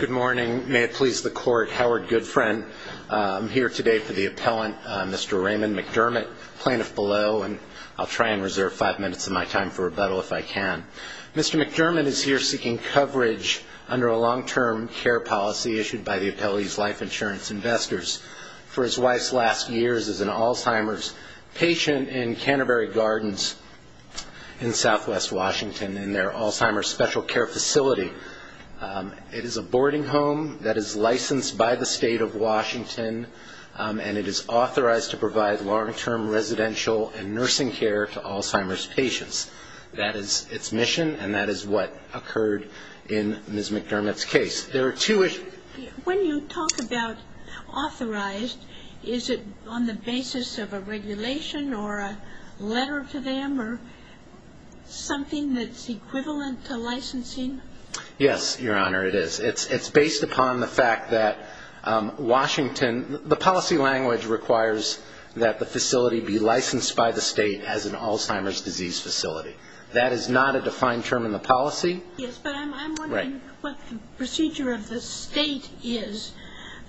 Good morning. May it please the Court, Howard Goodfriend. I'm here today for the appellant, Mr. Raymond McDermott, plaintiff below, and I'll try and reserve five minutes of my time for rebuttal if I can. Mr. McDermott is here seeking coverage under a long-term care policy issued by the appellee's life insurance investors. For his wife's last years as an Alzheimer's patient in Canterbury Gardens in southwest Washington in their Alzheimer's special care facility. It is a boarding home that is licensed by the state of Washington, and it is authorized to provide long-term residential and nursing care to Alzheimer's patients. That is its mission, and that is what occurred in Ms. McDermott's case. There are two issues. When you talk about authorized, is it on the basis of a regulation or a letter to them or something that's equivalent to licensing? Yes, Your Honor, it is. It's based upon the fact that Washington, the policy language requires that the facility be licensed by the state as an Alzheimer's disease facility. That is not a defined term in the policy. Yes, but I'm wondering what the procedure of the state is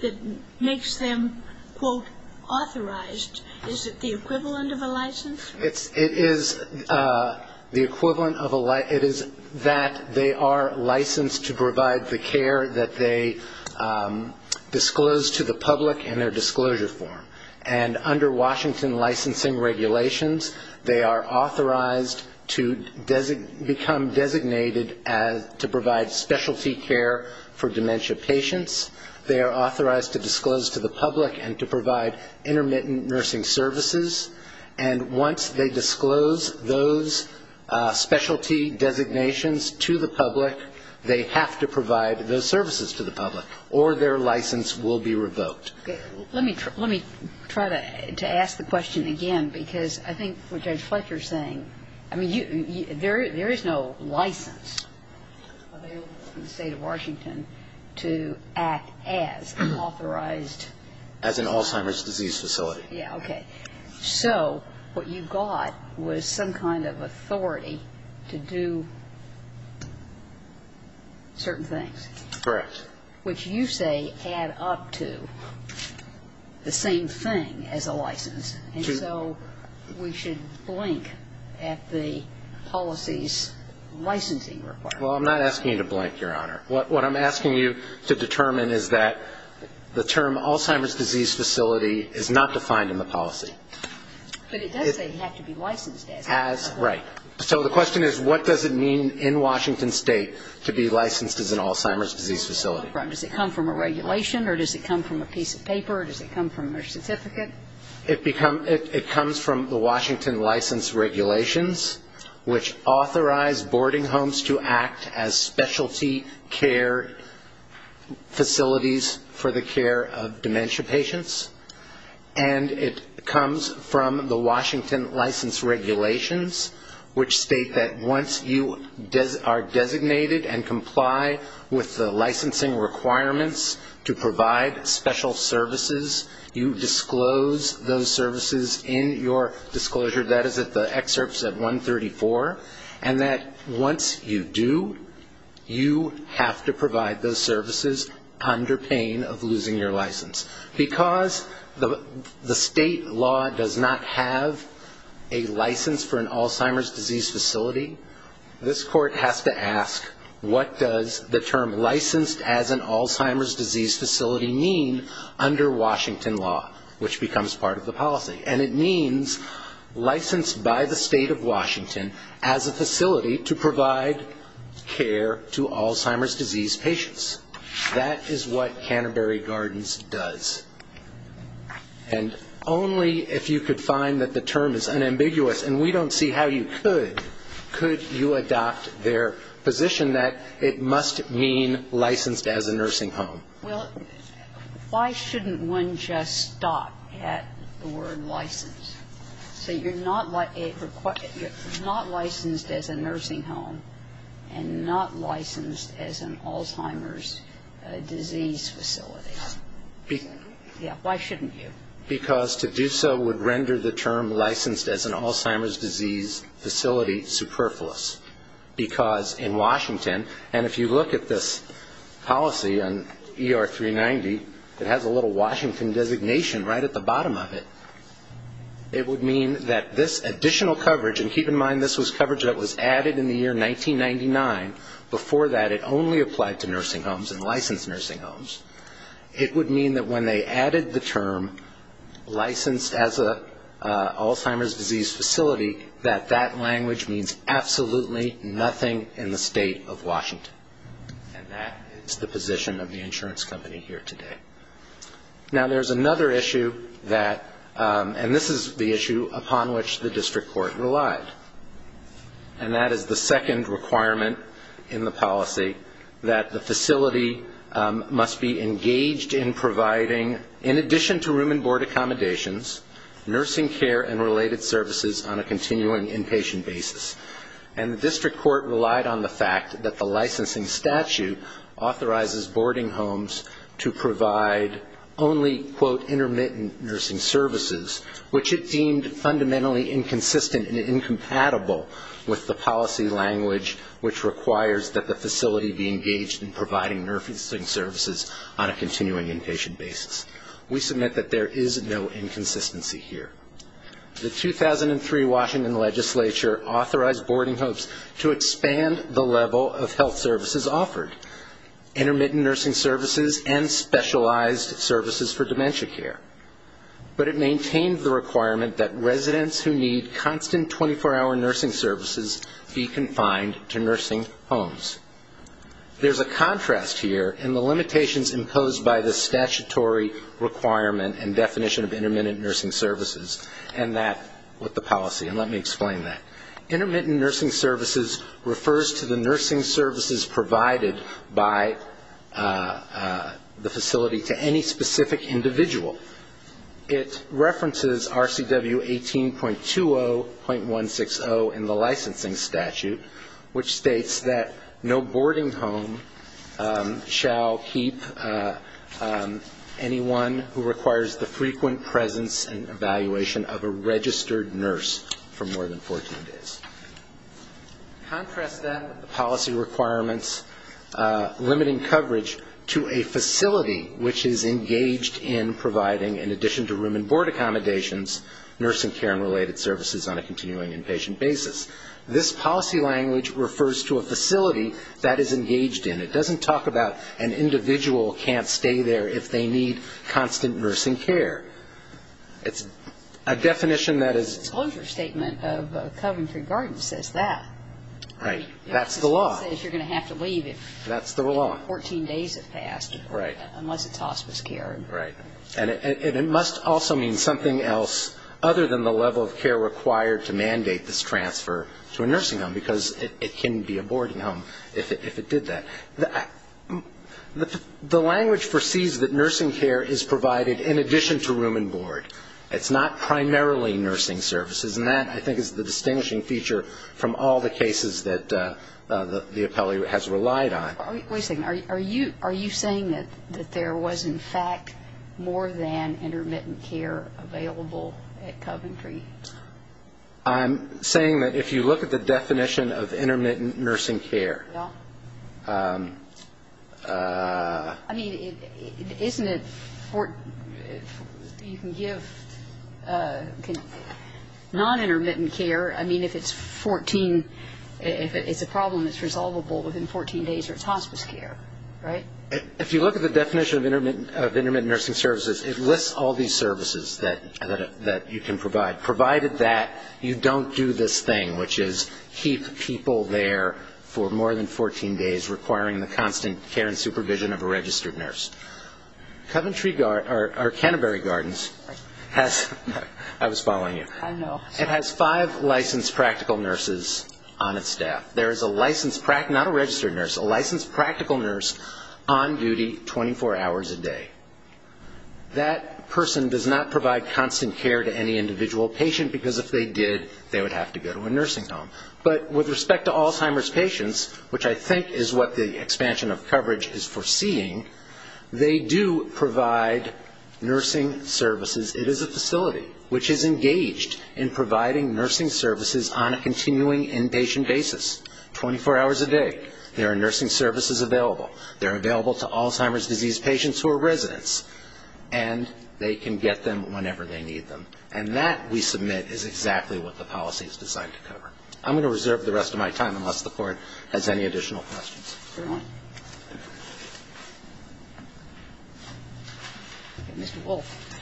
that makes them, quote, authorized. Is it the equivalent of a license? It is the equivalent of a license. It is that they are licensed to provide the care that they disclose to the public in their disclosure form. And under Washington licensing regulations, they are authorized to become designated as to provide specialty care for dementia patients. They are authorized to disclose to the public and to provide intermittent nursing services. And once they disclose those specialty designations to the public, they have to provide those services to the public, or their license will be revoked. Let me try to ask the question again, because I think what Judge Fletcher is saying, I mean, there is no license available in the state of Washington to act as an authorized As an Alzheimer's disease facility. Yeah, okay. So what you got was some kind of authority to do certain things. Correct. Which you say add up to the same thing as a license. And so we should blink at the policy's licensing requirement. Well, I'm not asking you to blink, Your Honor. What I'm asking you to determine is that the term Alzheimer's disease facility is not defined in the policy. But it does say you have to be licensed as. Right. So the question is, what does it mean in Washington state to be licensed as an Alzheimer's disease facility? Does it come from a regulation, or does it come from a piece of paper, or does it come from a certificate? It comes from the Washington license regulations, which authorize boarding homes to act as specialty care facilities for the care of dementia patients. And it comes from the Washington license regulations, which state that once you are designated and comply with the licensing requirements to provide special services, you disclose those services in your disclosure. That is at the excerpts at 134. And that once you do, you have to provide those services under pain of losing your license. Because the state law does not have a license for an Alzheimer's disease facility, this court has to ask what does the term licensed as an Alzheimer's disease facility mean under Washington law, which becomes part of the policy. And it means licensed by the state of Washington as a facility to provide care to Alzheimer's disease patients. That is what Canterbury Gardens does. And only if you could find that the term is unambiguous, and we don't see how you could, could you adopt their position that it must mean licensed as a nursing home? Well, why shouldn't one just stop at the word license? So you're not licensed as a nursing home and not licensed as an Alzheimer's disease facility. Why shouldn't you? Because to do so would render the term licensed as an Alzheimer's disease facility superfluous. Because in Washington, and if you look at this policy on ER 390, it has a little Washington designation right at the bottom of it. It would mean that this additional coverage, and keep in mind this was coverage that was added in the year 1999. Before that, it only applied to nursing homes and licensed nursing homes. It would mean that when they added the term licensed as an Alzheimer's disease facility, that that language means absolutely nothing in the state of Washington. And that is the position of the insurance company here today. Now there's another issue that, and this is the issue upon which the district court relied, and that is the second requirement in the policy that the facility must be engaged in providing, in addition to room and board accommodations, nursing care and related services on a continuing inpatient basis. And the district court relied on the fact that the licensing statute authorizes boarding homes to provide only quote, intermittent nursing services, which it deemed fundamentally inconsistent and incompatible with the policy language which requires that the facility be engaged in providing nursing services on a continuing inpatient basis. We submit that there is no inconsistency here. The 2003 Washington legislature authorized boarding homes to expand the level of health services offered, intermittent nursing services and specialized services for dementia care. But it maintained the requirement that residents who need constant 24-hour nursing services be confined to nursing homes. There's a contrast here in the limitations imposed by the statutory requirement and definition of intermittent nursing services and that with the policy, and let me explain that. Intermittent nursing services refers to the nursing services provided by the facility to any specific individual. It references RCW 18.20.160 in the licensing statute, which states that no boarding home shall keep anyone who requires the frequent presence and evaluation of a registered nurse for more than 14 days. Contrast that with the policy requirements limiting coverage to a facility which is engaged in providing, in addition to room and board accommodations, nursing care and related services on a continuing inpatient basis. This policy language refers to a facility that is engaged in. It doesn't talk about an individual can't stay there if they need constant nursing care. It's a definition that is. The disclosure statement of Coventry Gardens says that. Right. That's the law. It says you're going to have to leave if. That's the law. 14 days have passed. Right. Unless it's hospice care. Right. And it must also mean something else other than the level of care required to mandate this transfer to a nursing home because it can be a boarding home if it did that. The language foresees that nursing care is provided in addition to room and board. It's not primarily nursing services. And that, I think, is the distinguishing feature from all the cases that the appellee has relied on. Wait a second. Are you saying that there was, in fact, more than intermittent care available at Coventry? I'm saying that if you look at the definition of intermittent nursing care. No. I mean, isn't it you can give non-intermittent care, I mean, if it's 14, if it's a problem that's resolvable within 14 days or it's hospice care. Right. If you look at the definition of intermittent nursing services, it lists all these services that you can provide, provided that you don't do this thing, which is keep people there for more than 14 days, requiring the constant care and supervision of a registered nurse. Coventry, or Canterbury Gardens has, I was following you. I know. It has five licensed practical nurses on its staff. There is a licensed, not a registered nurse, a licensed practical nurse on duty 24 hours a day. That person does not provide constant care to any individual patient, because if they did, they would have to go to a nursing home. But with respect to Alzheimer's patients, which I think is what the expansion of coverage is foreseeing, they do provide nursing services. It is a facility which is engaged in providing nursing services on a continuing inpatient basis, 24 hours a day. There are nursing services available. They're available to Alzheimer's disease patients who are residents. And they can get them whenever they need them. And that, we submit, is exactly what the policy is designed to cover. I'm going to reserve the rest of my time, unless the Court has any additional questions. Is there one? Mr. Wolfe.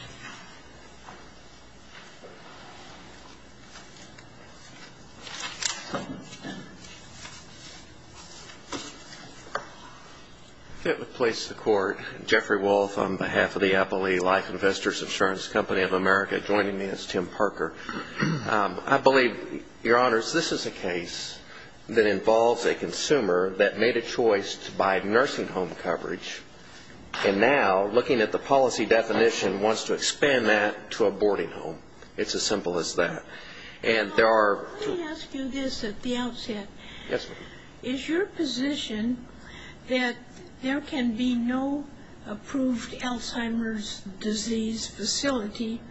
If I could please the Court. Jeffrey Wolfe, on behalf of the Appalachian Life Investors Insurance Company of America. Joining me is Tim Parker. I believe, Your Honors, this is a case that involves a consumer that made a choice to buy nursing home coverage. And now, looking at the policy definition, wants to expand that to a boarding home. It's as simple as that. And there are two- Let me ask you this at the outset. Yes, ma'am. Is your position that there can be no approved Alzheimer's disease facility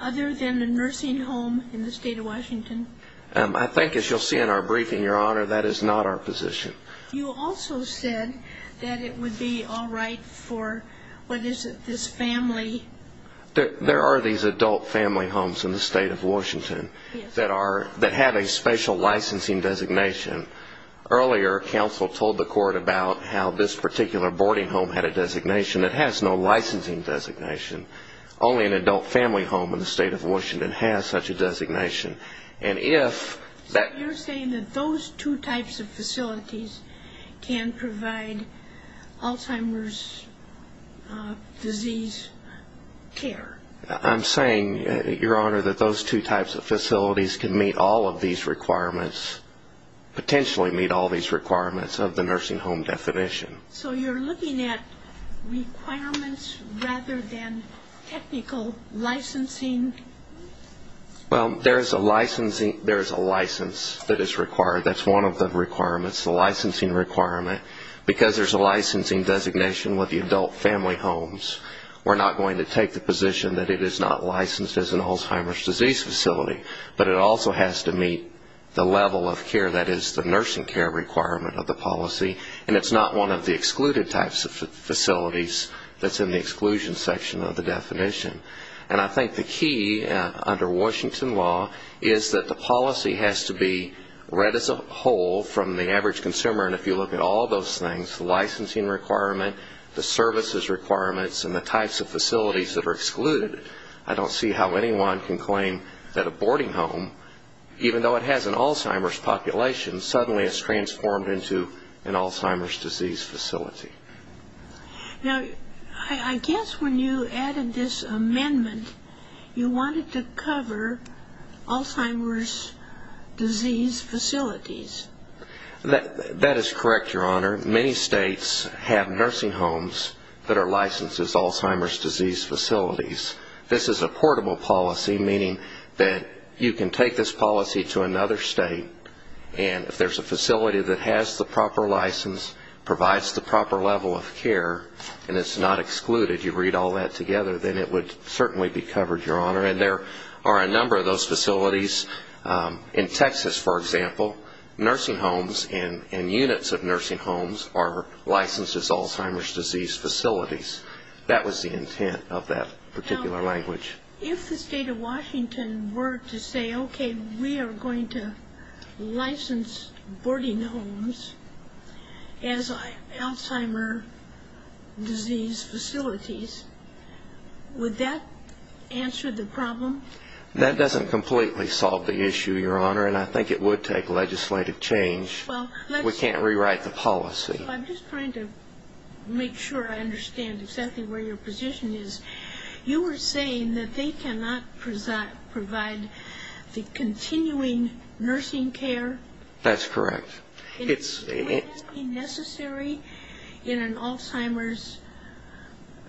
other than a nursing home in the state of Washington? I think, as you'll see in our briefing, Your Honor, that is not our position. You also said that it would be all right for, what is it, this family- There are these adult family homes in the state of Washington that have a special licensing designation. Earlier, counsel told the Court about how this particular boarding home had a designation. It has no licensing designation. Only an adult family home in the state of Washington has such a designation. And if that- So you're saying that those two types of facilities can provide Alzheimer's disease care. I'm saying, Your Honor, that those two types of facilities can meet all of these requirements, potentially meet all these requirements of the nursing home definition. So you're looking at requirements rather than technical licensing? Well, there is a license that is required. That's one of the requirements, the licensing requirement. Because there's a licensing designation with the adult family homes, we're not going to take the position that it is not licensed as an Alzheimer's disease facility. But it also has to meet the level of care that is the nursing care requirement of the policy. And it's not one of the excluded types of facilities that's in the exclusion section of the definition. And I think the key under Washington law is that the policy has to be read as a whole from the average consumer. And if you look at all those things, the licensing requirement, the services requirements, and the types of facilities that are excluded, I don't see how anyone can claim that a boarding home, even though it has an Alzheimer's population, suddenly is transformed into an Alzheimer's disease facility. Now, I guess when you added this amendment, you wanted to cover Alzheimer's disease facilities. That is correct, Your Honor. Many states have nursing homes that are licensed as Alzheimer's disease facilities. This is a portable policy, meaning that you can take this policy to another state, and if there's a facility that has the proper license, provides the proper level of care, and it's not excluded, you read all that together, then it would certainly be covered, Your Honor. And there are a number of those facilities. In Texas, for example, nursing homes and units of nursing homes are licensed as Alzheimer's disease facilities. That was the intent of that particular language. Now, if the state of Washington were to say, okay, we are going to license boarding homes as Alzheimer's disease facilities, would that answer the problem? That doesn't completely solve the issue, Your Honor, and I think it would take legislative change. We can't rewrite the policy. I'm just trying to make sure I understand exactly where your position is. You were saying that they cannot provide the continuing nursing care? That's correct. Would that be necessary in an Alzheimer's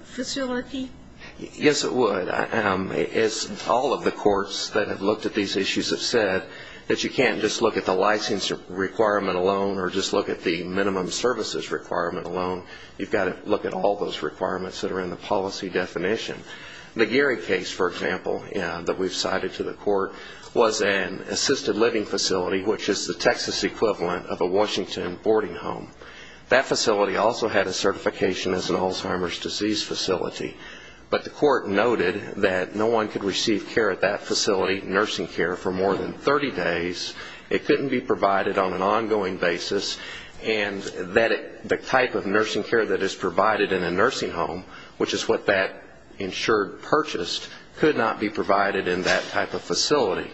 facility? Yes, it would. All of the courts that have looked at these issues have said that you can't just look at the license requirement alone or just look at the minimum services requirement alone. You've got to look at all those requirements that are in the policy definition. The Geary case, for example, that we've cited to the court was an assisted living facility, which is the Texas equivalent of a Washington boarding home. That facility also had a certification as an Alzheimer's disease facility, but the court noted that no one could receive care at that facility, nursing care, for more than 30 days. It couldn't be provided on an ongoing basis, and the type of nursing care that is provided in a nursing home, which is what that insured purchased, could not be provided in that type of facility.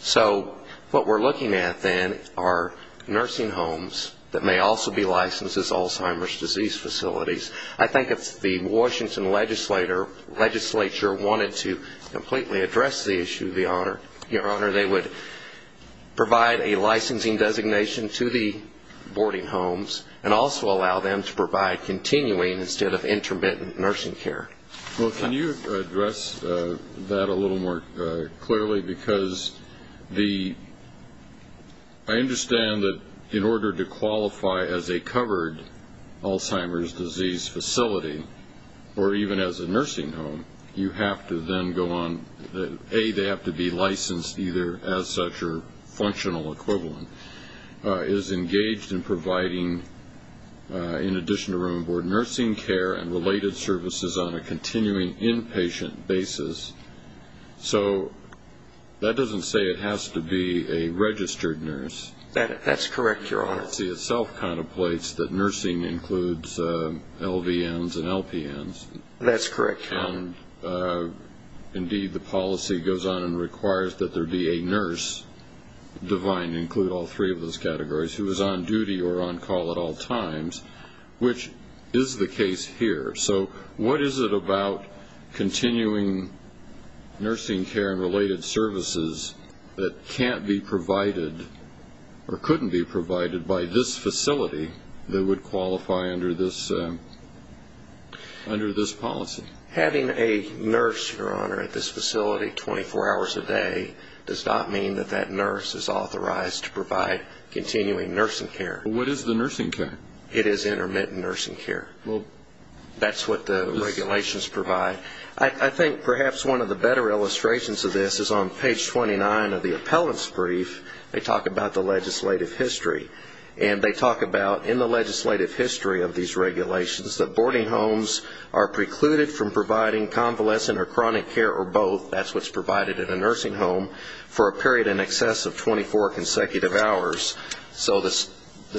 So what we're looking at, then, are nursing homes that may also be licensed as Alzheimer's disease facilities. I think if the Washington legislature wanted to completely address the issue, Your Honor, they would provide a licensing designation to the boarding homes and also allow them to provide continuing instead of intermittent nursing care. Well, can you address that a little more clearly? Because I understand that in order to qualify as a covered Alzheimer's disease facility or even as a nursing home, you have to then go on, A, they have to be licensed either as such or functional equivalent, is engaged in providing, in addition to room and board, nursing care and related services on a continuing inpatient basis. So that doesn't say it has to be a registered nurse. That's correct, Your Honor. The policy itself contemplates that nursing includes LVNs and LPNs. That's correct, Your Honor. Indeed, the policy goes on and requires that there be a nurse, divine, include all three of those categories, who is on duty or on call at all times, which is the case here. So what is it about continuing nursing care and related services that can't be provided or couldn't be provided by this facility that would qualify under this policy? Having a nurse, Your Honor, at this facility 24 hours a day does not mean that that nurse is authorized to provide continuing nursing care. What is the nursing care? It is intermittent nursing care. That's what the regulations provide. I think perhaps one of the better illustrations of this is on page 29 of the appellant's brief. They talk about the legislative history. And they talk about in the legislative history of these regulations that boarding homes are precluded from providing convalescent or chronic care or both, that's what's provided in a nursing home, for a period in excess of 24 consecutive hours. So the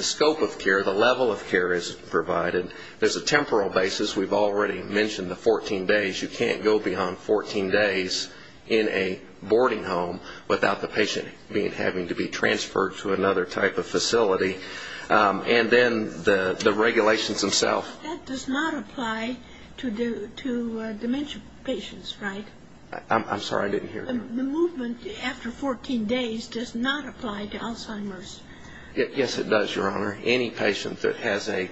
scope of care, the level of care is provided. There's a temporal basis. We've already mentioned the 14 days. You can't go beyond 14 days in a boarding home without the patient having to be transferred to another type of facility. And then the regulations themselves. But that does not apply to dementia patients, right? I'm sorry, I didn't hear you. The movement after 14 days does not apply to Alzheimer's. Yes, it does, Your Honor. Any patient that has a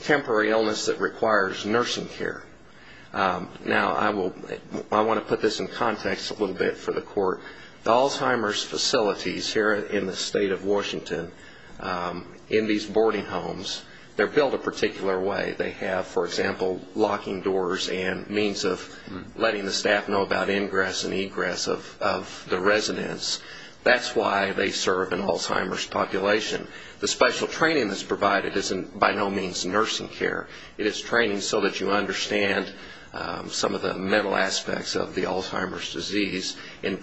temporary illness that requires nursing care. Now, I want to put this in context a little bit for the Court. The Alzheimer's facilities here in the state of Washington, in these boarding homes, they're built a particular way. They have, for example, locking doors and means of letting the staff know about ingress and egress of the residents. That's why they serve an Alzheimer's population. The special training that's provided isn't by no means nursing care. It is training so that you understand some of the mental aspects of the Alzheimer's disease in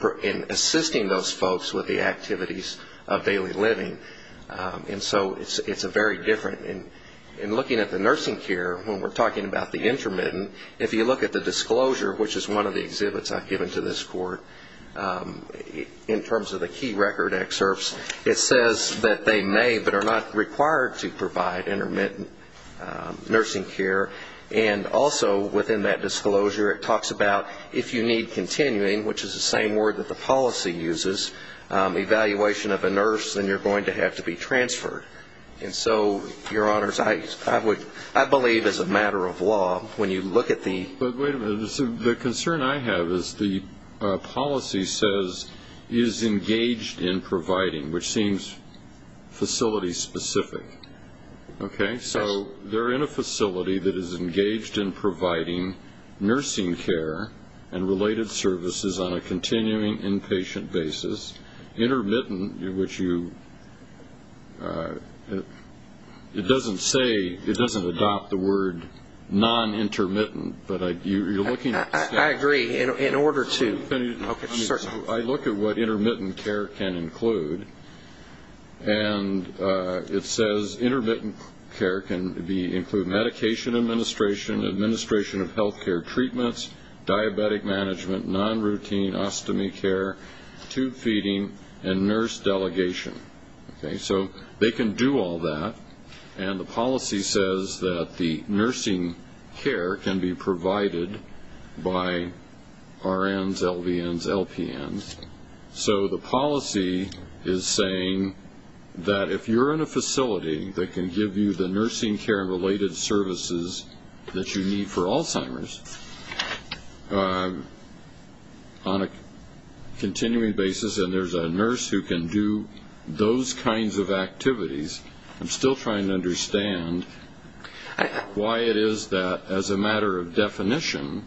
assisting those folks with the activities of daily living. And so it's very different. In looking at the nursing care, when we're talking about the intermittent, if you look at the disclosure, which is one of the exhibits I've given to this Court, in terms of the key record excerpts, it says that they may but are not required to provide intermittent nursing care. And also within that disclosure, it talks about if you need continuing, which is the same word that the policy uses, evaluation of a nurse, then you're going to have to be transferred. And so, Your Honors, I believe as a matter of law, when you look at the ---- But wait a minute. The concern I have is the policy says is engaged in providing, which seems facility specific. Okay? So they're in a facility that is engaged in providing nursing care and related services on a continuing inpatient basis. Intermittent, which you ---- It doesn't say, it doesn't adopt the word non-intermittent, but you're looking at ---- I agree. In order to ---- I look at what intermittent care can include, and it says intermittent care can include medication administration, administration of health care treatments, diabetic management, non-routine ostomy care, tube feeding, and nurse delegation. Okay? So they can do all that, and the policy says that the nursing care can be provided by RNs, LVNs, LPNs. So the policy is saying that if you're in a facility that can give you the nursing care and related services that you need for Alzheimer's on a continuing basis, and there's a nurse who can do those kinds of activities, I'm still trying to understand why it is that, as a matter of definition,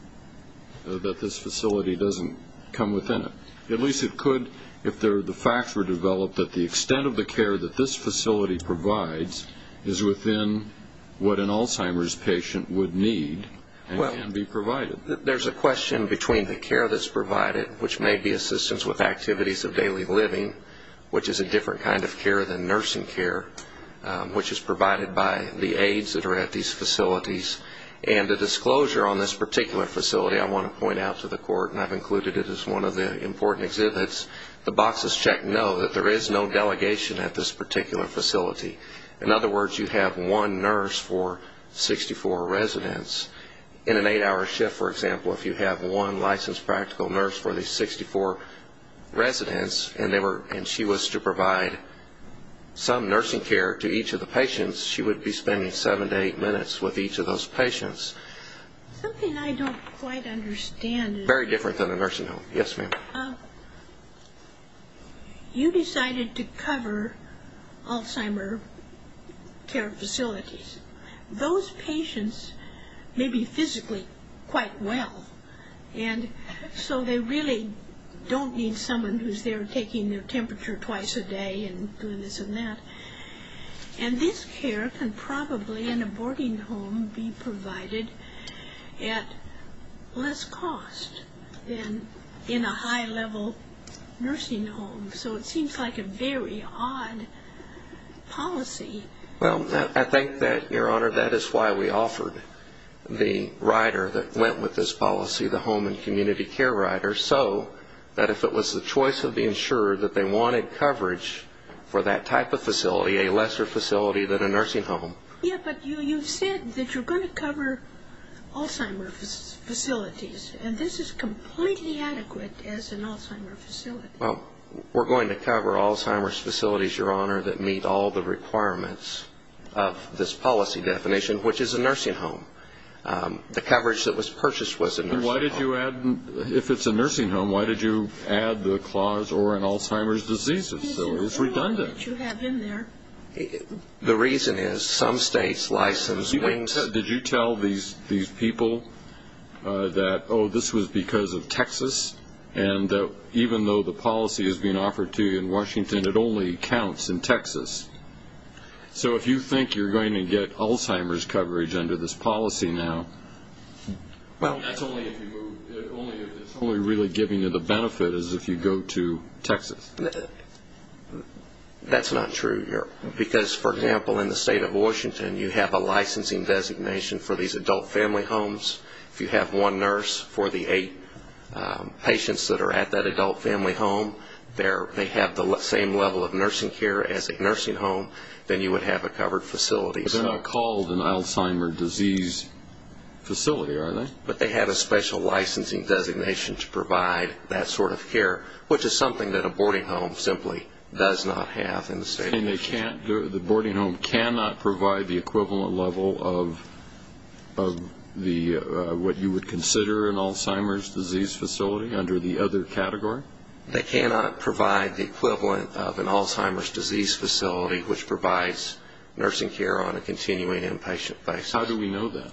that this facility doesn't come within it. At least it could if the facts were developed that the extent of the care that this facility provides is within what an Alzheimer's patient would need and can be provided. Well, there's a question between the care that's provided, which may be assistance with activities of daily living, which is a different kind of care than nursing care, which is provided by the aides that are at these facilities, and the disclosure on this particular facility I want to point out to the court, and I've included it as one of the important exhibits. The boxes check no, that there is no delegation at this particular facility. In other words, you have one nurse for 64 residents. In an eight-hour shift, for example, if you have one licensed practical nurse for the 64 residents and she was to provide some nursing care to each of the patients, she would be spending seven to eight minutes with each of those patients. Something I don't quite understand. Very different than a nursing home. Yes, ma'am. You decided to cover Alzheimer care facilities. Those patients may be physically quite well, and so they really don't need someone who's there taking their temperature twice a day and doing this and that. And this care can probably in a boarding home be provided at less cost than in a high-level nursing home. So it seems like a very odd policy. Well, I think that, Your Honor, that is why we offered the rider that went with this policy, the home and community care rider, so that if it was the choice of the insurer that they wanted coverage for that type of facility, a lesser facility than a nursing home. Yes, but you said that you're going to cover Alzheimer's facilities, and this is completely adequate as an Alzheimer's facility. Well, we're going to cover Alzheimer's facilities, Your Honor, that meet all the requirements of this policy definition, which is a nursing home. The coverage that was purchased was a nursing home. If it's a nursing home, why did you add the clause or an Alzheimer's diseases facility? It's redundant. The reason is some states license things. Did you tell these people that, oh, this was because of Texas, and even though the policy is being offered to you in Washington, it only counts in Texas? So if you think you're going to get Alzheimer's coverage under this policy now, that's only if you move. It's only really giving you the benefit as if you go to Texas. That's not true here, because, for example, in the state of Washington, you have a licensing designation for these adult family homes. If you have one nurse for the eight patients that are at that adult family home, they have the same level of nursing care as a nursing home, then you would have a covered facility. They're not called an Alzheimer's disease facility, are they? But they have a special licensing designation to provide that sort of care, which is something that a boarding home simply does not have in the state of Washington. And the boarding home cannot provide the equivalent level of what you would consider an Alzheimer's disease facility under the other category? They cannot provide the equivalent of an Alzheimer's disease facility, which provides nursing care on a continuing inpatient basis. How do we know that?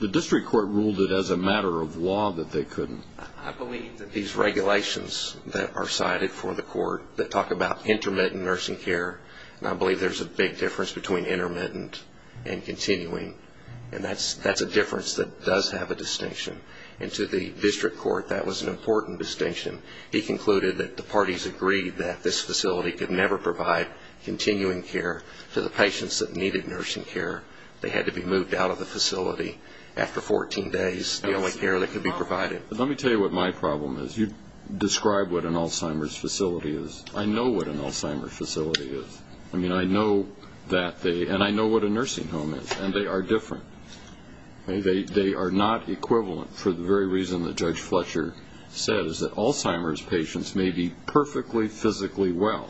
The district court ruled it as a matter of law that they couldn't. I believe that these regulations that are cited for the court that talk about intermittent nursing care, and I believe there's a big difference between intermittent and continuing, and that's a difference that does have a distinction. And to the district court, that was an important distinction. He concluded that the parties agreed that this facility could never provide continuing care to the patients that needed nursing care. They had to be moved out of the facility after 14 days, the only care that could be provided. Let me tell you what my problem is. You describe what an Alzheimer's facility is. I know what an Alzheimer's facility is. I mean, I know that they – and I know what a nursing home is, and they are different. They are not equivalent for the very reason that Judge Fletcher says, that Alzheimer's patients may be perfectly physically well.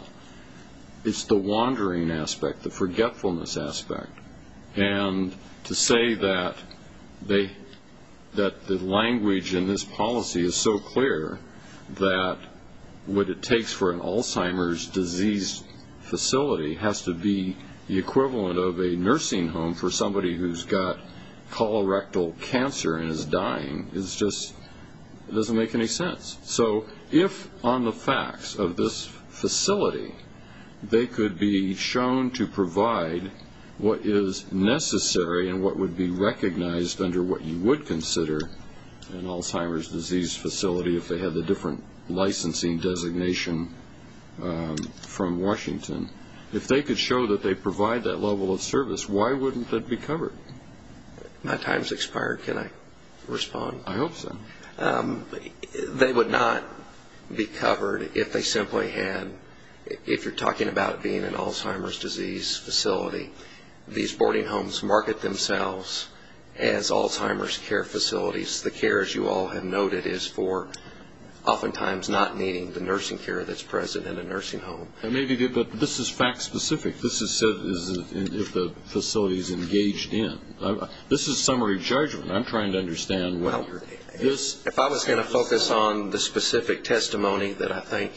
It's the wandering aspect, the forgetfulness aspect. And to say that the language in this policy is so clear that what it takes for an Alzheimer's disease facility has to be the equivalent of a nursing home for somebody who's got colorectal cancer and is dying is just – it doesn't make any sense. So if on the facts of this facility they could be shown to provide what is necessary and what would be recognized under what you would consider an Alzheimer's disease facility if they had the different licensing designation from Washington, if they could show that they provide that level of service, why wouldn't that be covered? My time's expired. Can I respond? I hope so. They would not be covered if they simply had – if you're talking about being an Alzheimer's disease facility, these boarding homes market themselves as Alzheimer's care facilities. The care, as you all have noted, is for oftentimes not needing the nursing care that's present in a nursing home. Maybe, but this is fact specific. This is if the facility is engaged in. This is summary judgment. I'm trying to understand what you're saying. If I was going to focus on the specific testimony that I think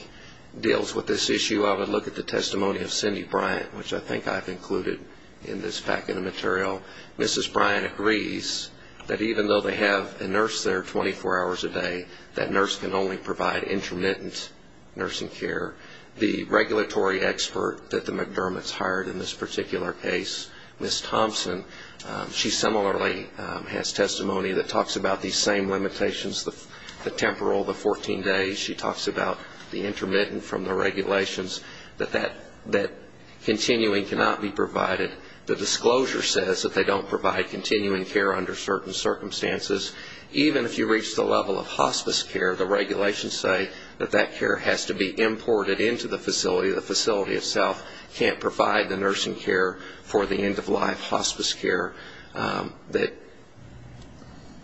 deals with this issue, I would look at the testimony of Cindy Bryant, which I think I've included in this fact of the material. Mrs. Bryant agrees that even though they have a nurse there 24 hours a day, that nurse can only provide intermittent nursing care. The regulatory expert that the McDermott's hired in this particular case, Ms. Thompson, she similarly has testimony that talks about these same limitations, the temporal, the 14 days. She talks about the intermittent from the regulations, that continuing cannot be provided. The disclosure says that they don't provide continuing care under certain circumstances. Even if you reach the level of hospice care, the regulations say that that care has to be imported into the facility. The facility itself can't provide the nursing care for the end-of-life hospice care that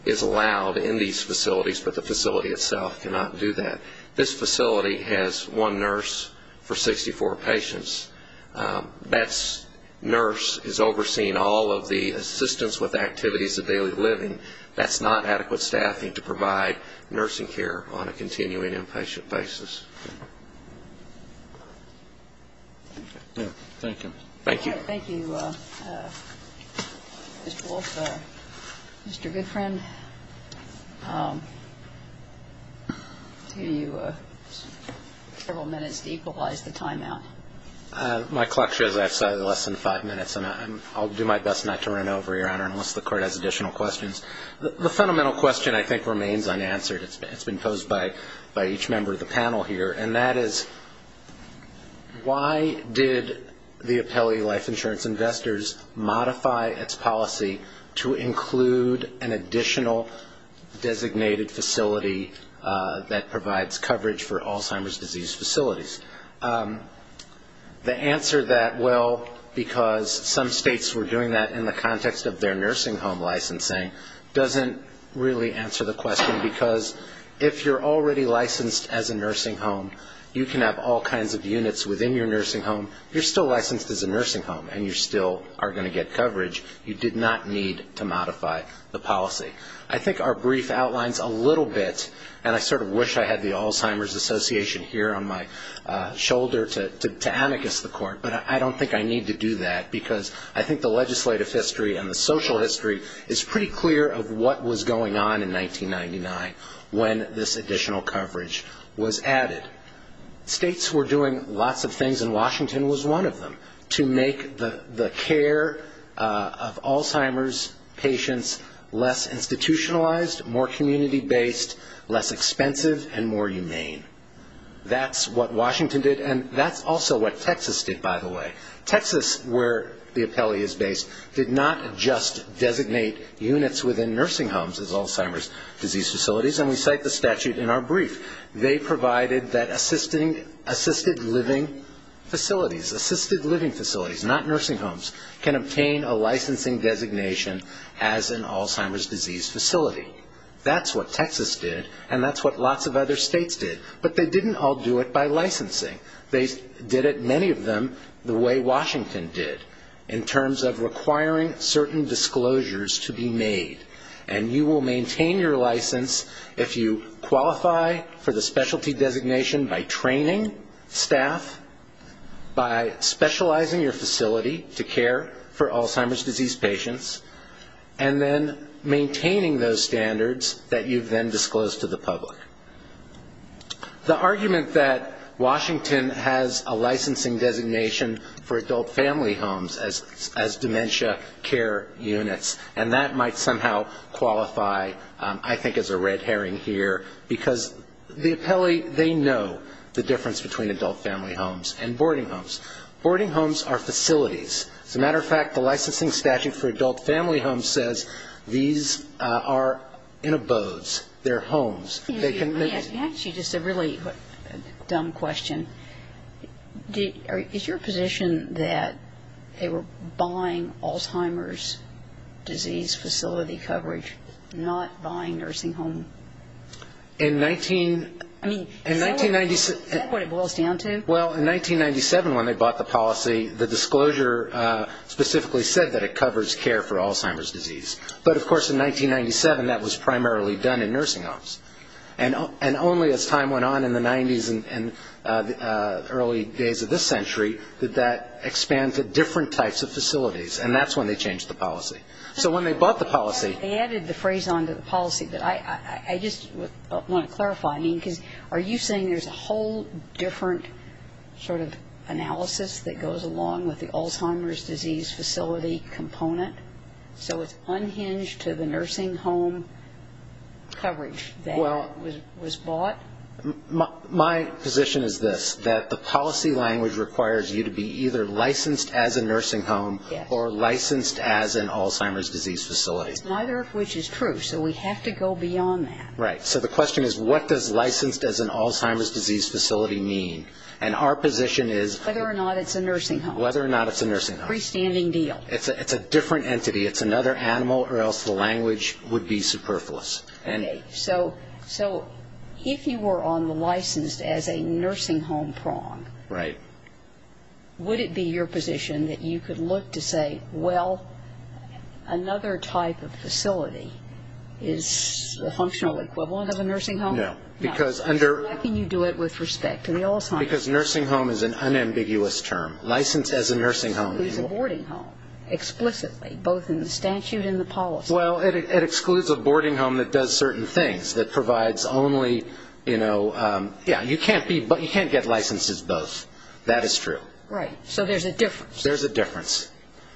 is allowed in these facilities, but the facility itself cannot do that. This facility has one nurse for 64 patients. That nurse is overseeing all of the assistance with activities of daily living. That's not adequate staffing to provide nursing care on a continuing inpatient basis. Thank you. Thank you. Thank you, Mr. Wolf. Mr. Goodfriend, I'll give you several minutes to equalize the timeout. My clock shows I have less than five minutes, and I'll do my best not to run over, Your Honor, unless the Court has additional questions. The fundamental question I think remains unanswered. It's been posed by each member of the panel here, and that is why did the Appellee Life Insurance Investors modify its policy to include an additional designated facility that provides coverage for Alzheimer's disease facilities? The answer that, well, because some states were doing that in the context of their nursing home licensing, doesn't really answer the question, because if you're already licensed as a nursing home, you can have all kinds of units within your nursing home. You're still licensed as a nursing home, and you still are going to get coverage. You did not need to modify the policy. I think our brief outlines a little bit, and I sort of wish I had the Alzheimer's Association here on my shoulder to amicus the Court, but I don't think I need to do that because I think the legislative history and the social history is pretty clear of what was going on in 1999 when this additional coverage was added. States were doing lots of things, and Washington was one of them, to make the care of Alzheimer's patients less institutionalized, more community-based, less expensive, and more humane. That's what Washington did, and that's also what Texas did, by the way. Texas, where the appellee is based, did not just designate units within nursing homes as Alzheimer's disease facilities, and we cite the statute in our brief. They provided that assisted living facilities, assisted living facilities, not nursing homes, can obtain a licensing designation as an Alzheimer's disease facility. That's what Texas did, and that's what lots of other states did, but they didn't all do it by licensing. They did it, many of them, the way Washington did, in terms of requiring certain disclosures to be made, and you will maintain your license if you qualify for the specialty designation by training staff, by specializing your facility to care for Alzheimer's disease patients, and then maintaining those standards that you've then disclosed to the public. The argument that Washington has a licensing designation for adult family homes as dementia care units, and that might somehow qualify, I think, as a red herring here, because the appellee, they know the difference between adult family homes and boarding homes. Boarding homes are facilities. As a matter of fact, the licensing statute for adult family homes says these are in abodes. They're homes. Actually, just a really dumb question. Is your position that they were buying Alzheimer's disease facility coverage, not buying nursing homes? In 1996 ñ Is that what it boils down to? Well, in 1997, when they bought the policy, the disclosure specifically said that it covers care for Alzheimer's disease, but, of course, in 1997, that was primarily done in nursing homes. And only as time went on in the 90s and early days of this century did that expand to different types of facilities, and that's when they changed the policy. So when they bought the policy ñ They added the phrase on to the policy, but I just want to clarify, because are you saying there's a whole different sort of analysis that goes along with the Alzheimer's disease facility component? So it's unhinged to the nursing home coverage that was bought? My position is this, that the policy language requires you to be either licensed as a nursing home or licensed as an Alzheimer's disease facility. Neither of which is true, so we have to go beyond that. Right. So the question is, what does licensed as an Alzheimer's disease facility mean? And our position is ñ Whether or not it's a nursing home. Whether or not it's a nursing home. Freestanding deal. It's a different entity. It's another animal, or else the language would be superfluous. So if you were on the licensed as a nursing home prong, would it be your position that you could look to say, well, another type of facility is a functional equivalent of a nursing home? No. Why can you do it with respect to the Alzheimer's? Because nursing home is an unambiguous term. Licensed as a nursing home. It excludes a boarding home, explicitly, both in the statute and the policy. Well, it excludes a boarding home that does certain things, that provides only, you know, yeah, you can't get licenses both. That is true. Right. So there's a difference. There's a difference.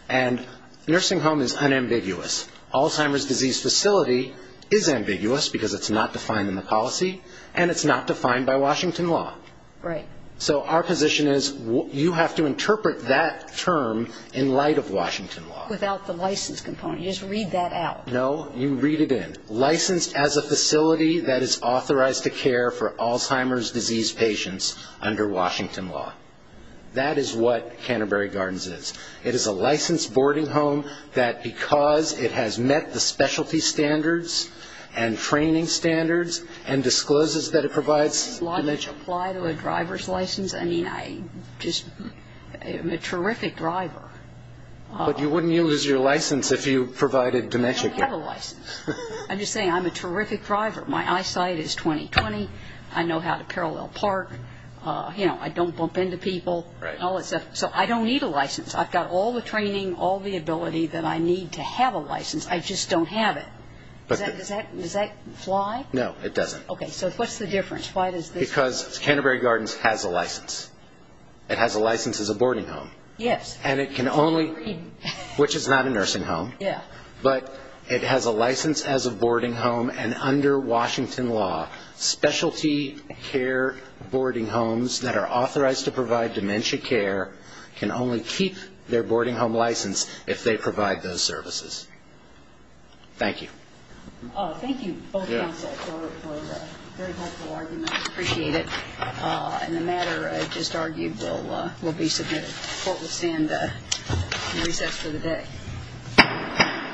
And nursing home is unambiguous. Alzheimer's disease facility is ambiguous because it's not defined in the policy, and it's not defined by Washington law. Right. So our position is you have to interpret that term in light of Washington law. Without the license component. You just read that out. No, you read it in. Licensed as a facility that is authorized to care for Alzheimer's disease patients under Washington law. That is what Canterbury Gardens is. It is a licensed boarding home that, because it has met the specialty standards and training standards and discloses that it provides dementia care. Apply to a driver's license. I mean, I just am a terrific driver. But wouldn't you lose your license if you provided dementia care? I don't have a license. I'm just saying I'm a terrific driver. My eyesight is 20-20. I know how to parallel park. You know, I don't bump into people and all that stuff. So I don't need a license. I've got all the training, all the ability that I need to have a license. I just don't have it. Does that fly? No, it doesn't. Okay, so what's the difference? Why does this work? Because Canterbury Gardens has a license. It has a license as a boarding home. Yes. And it can only, which is not a nursing home. Yeah. But it has a license as a boarding home, and under Washington law, specialty care boarding homes that are authorized to provide dementia care can only keep their boarding home license if they provide those services. Thank you. Thank you both counsel for a very helpful argument. I appreciate it. And the matter just argued will be submitted. The court will stand in recess for the day.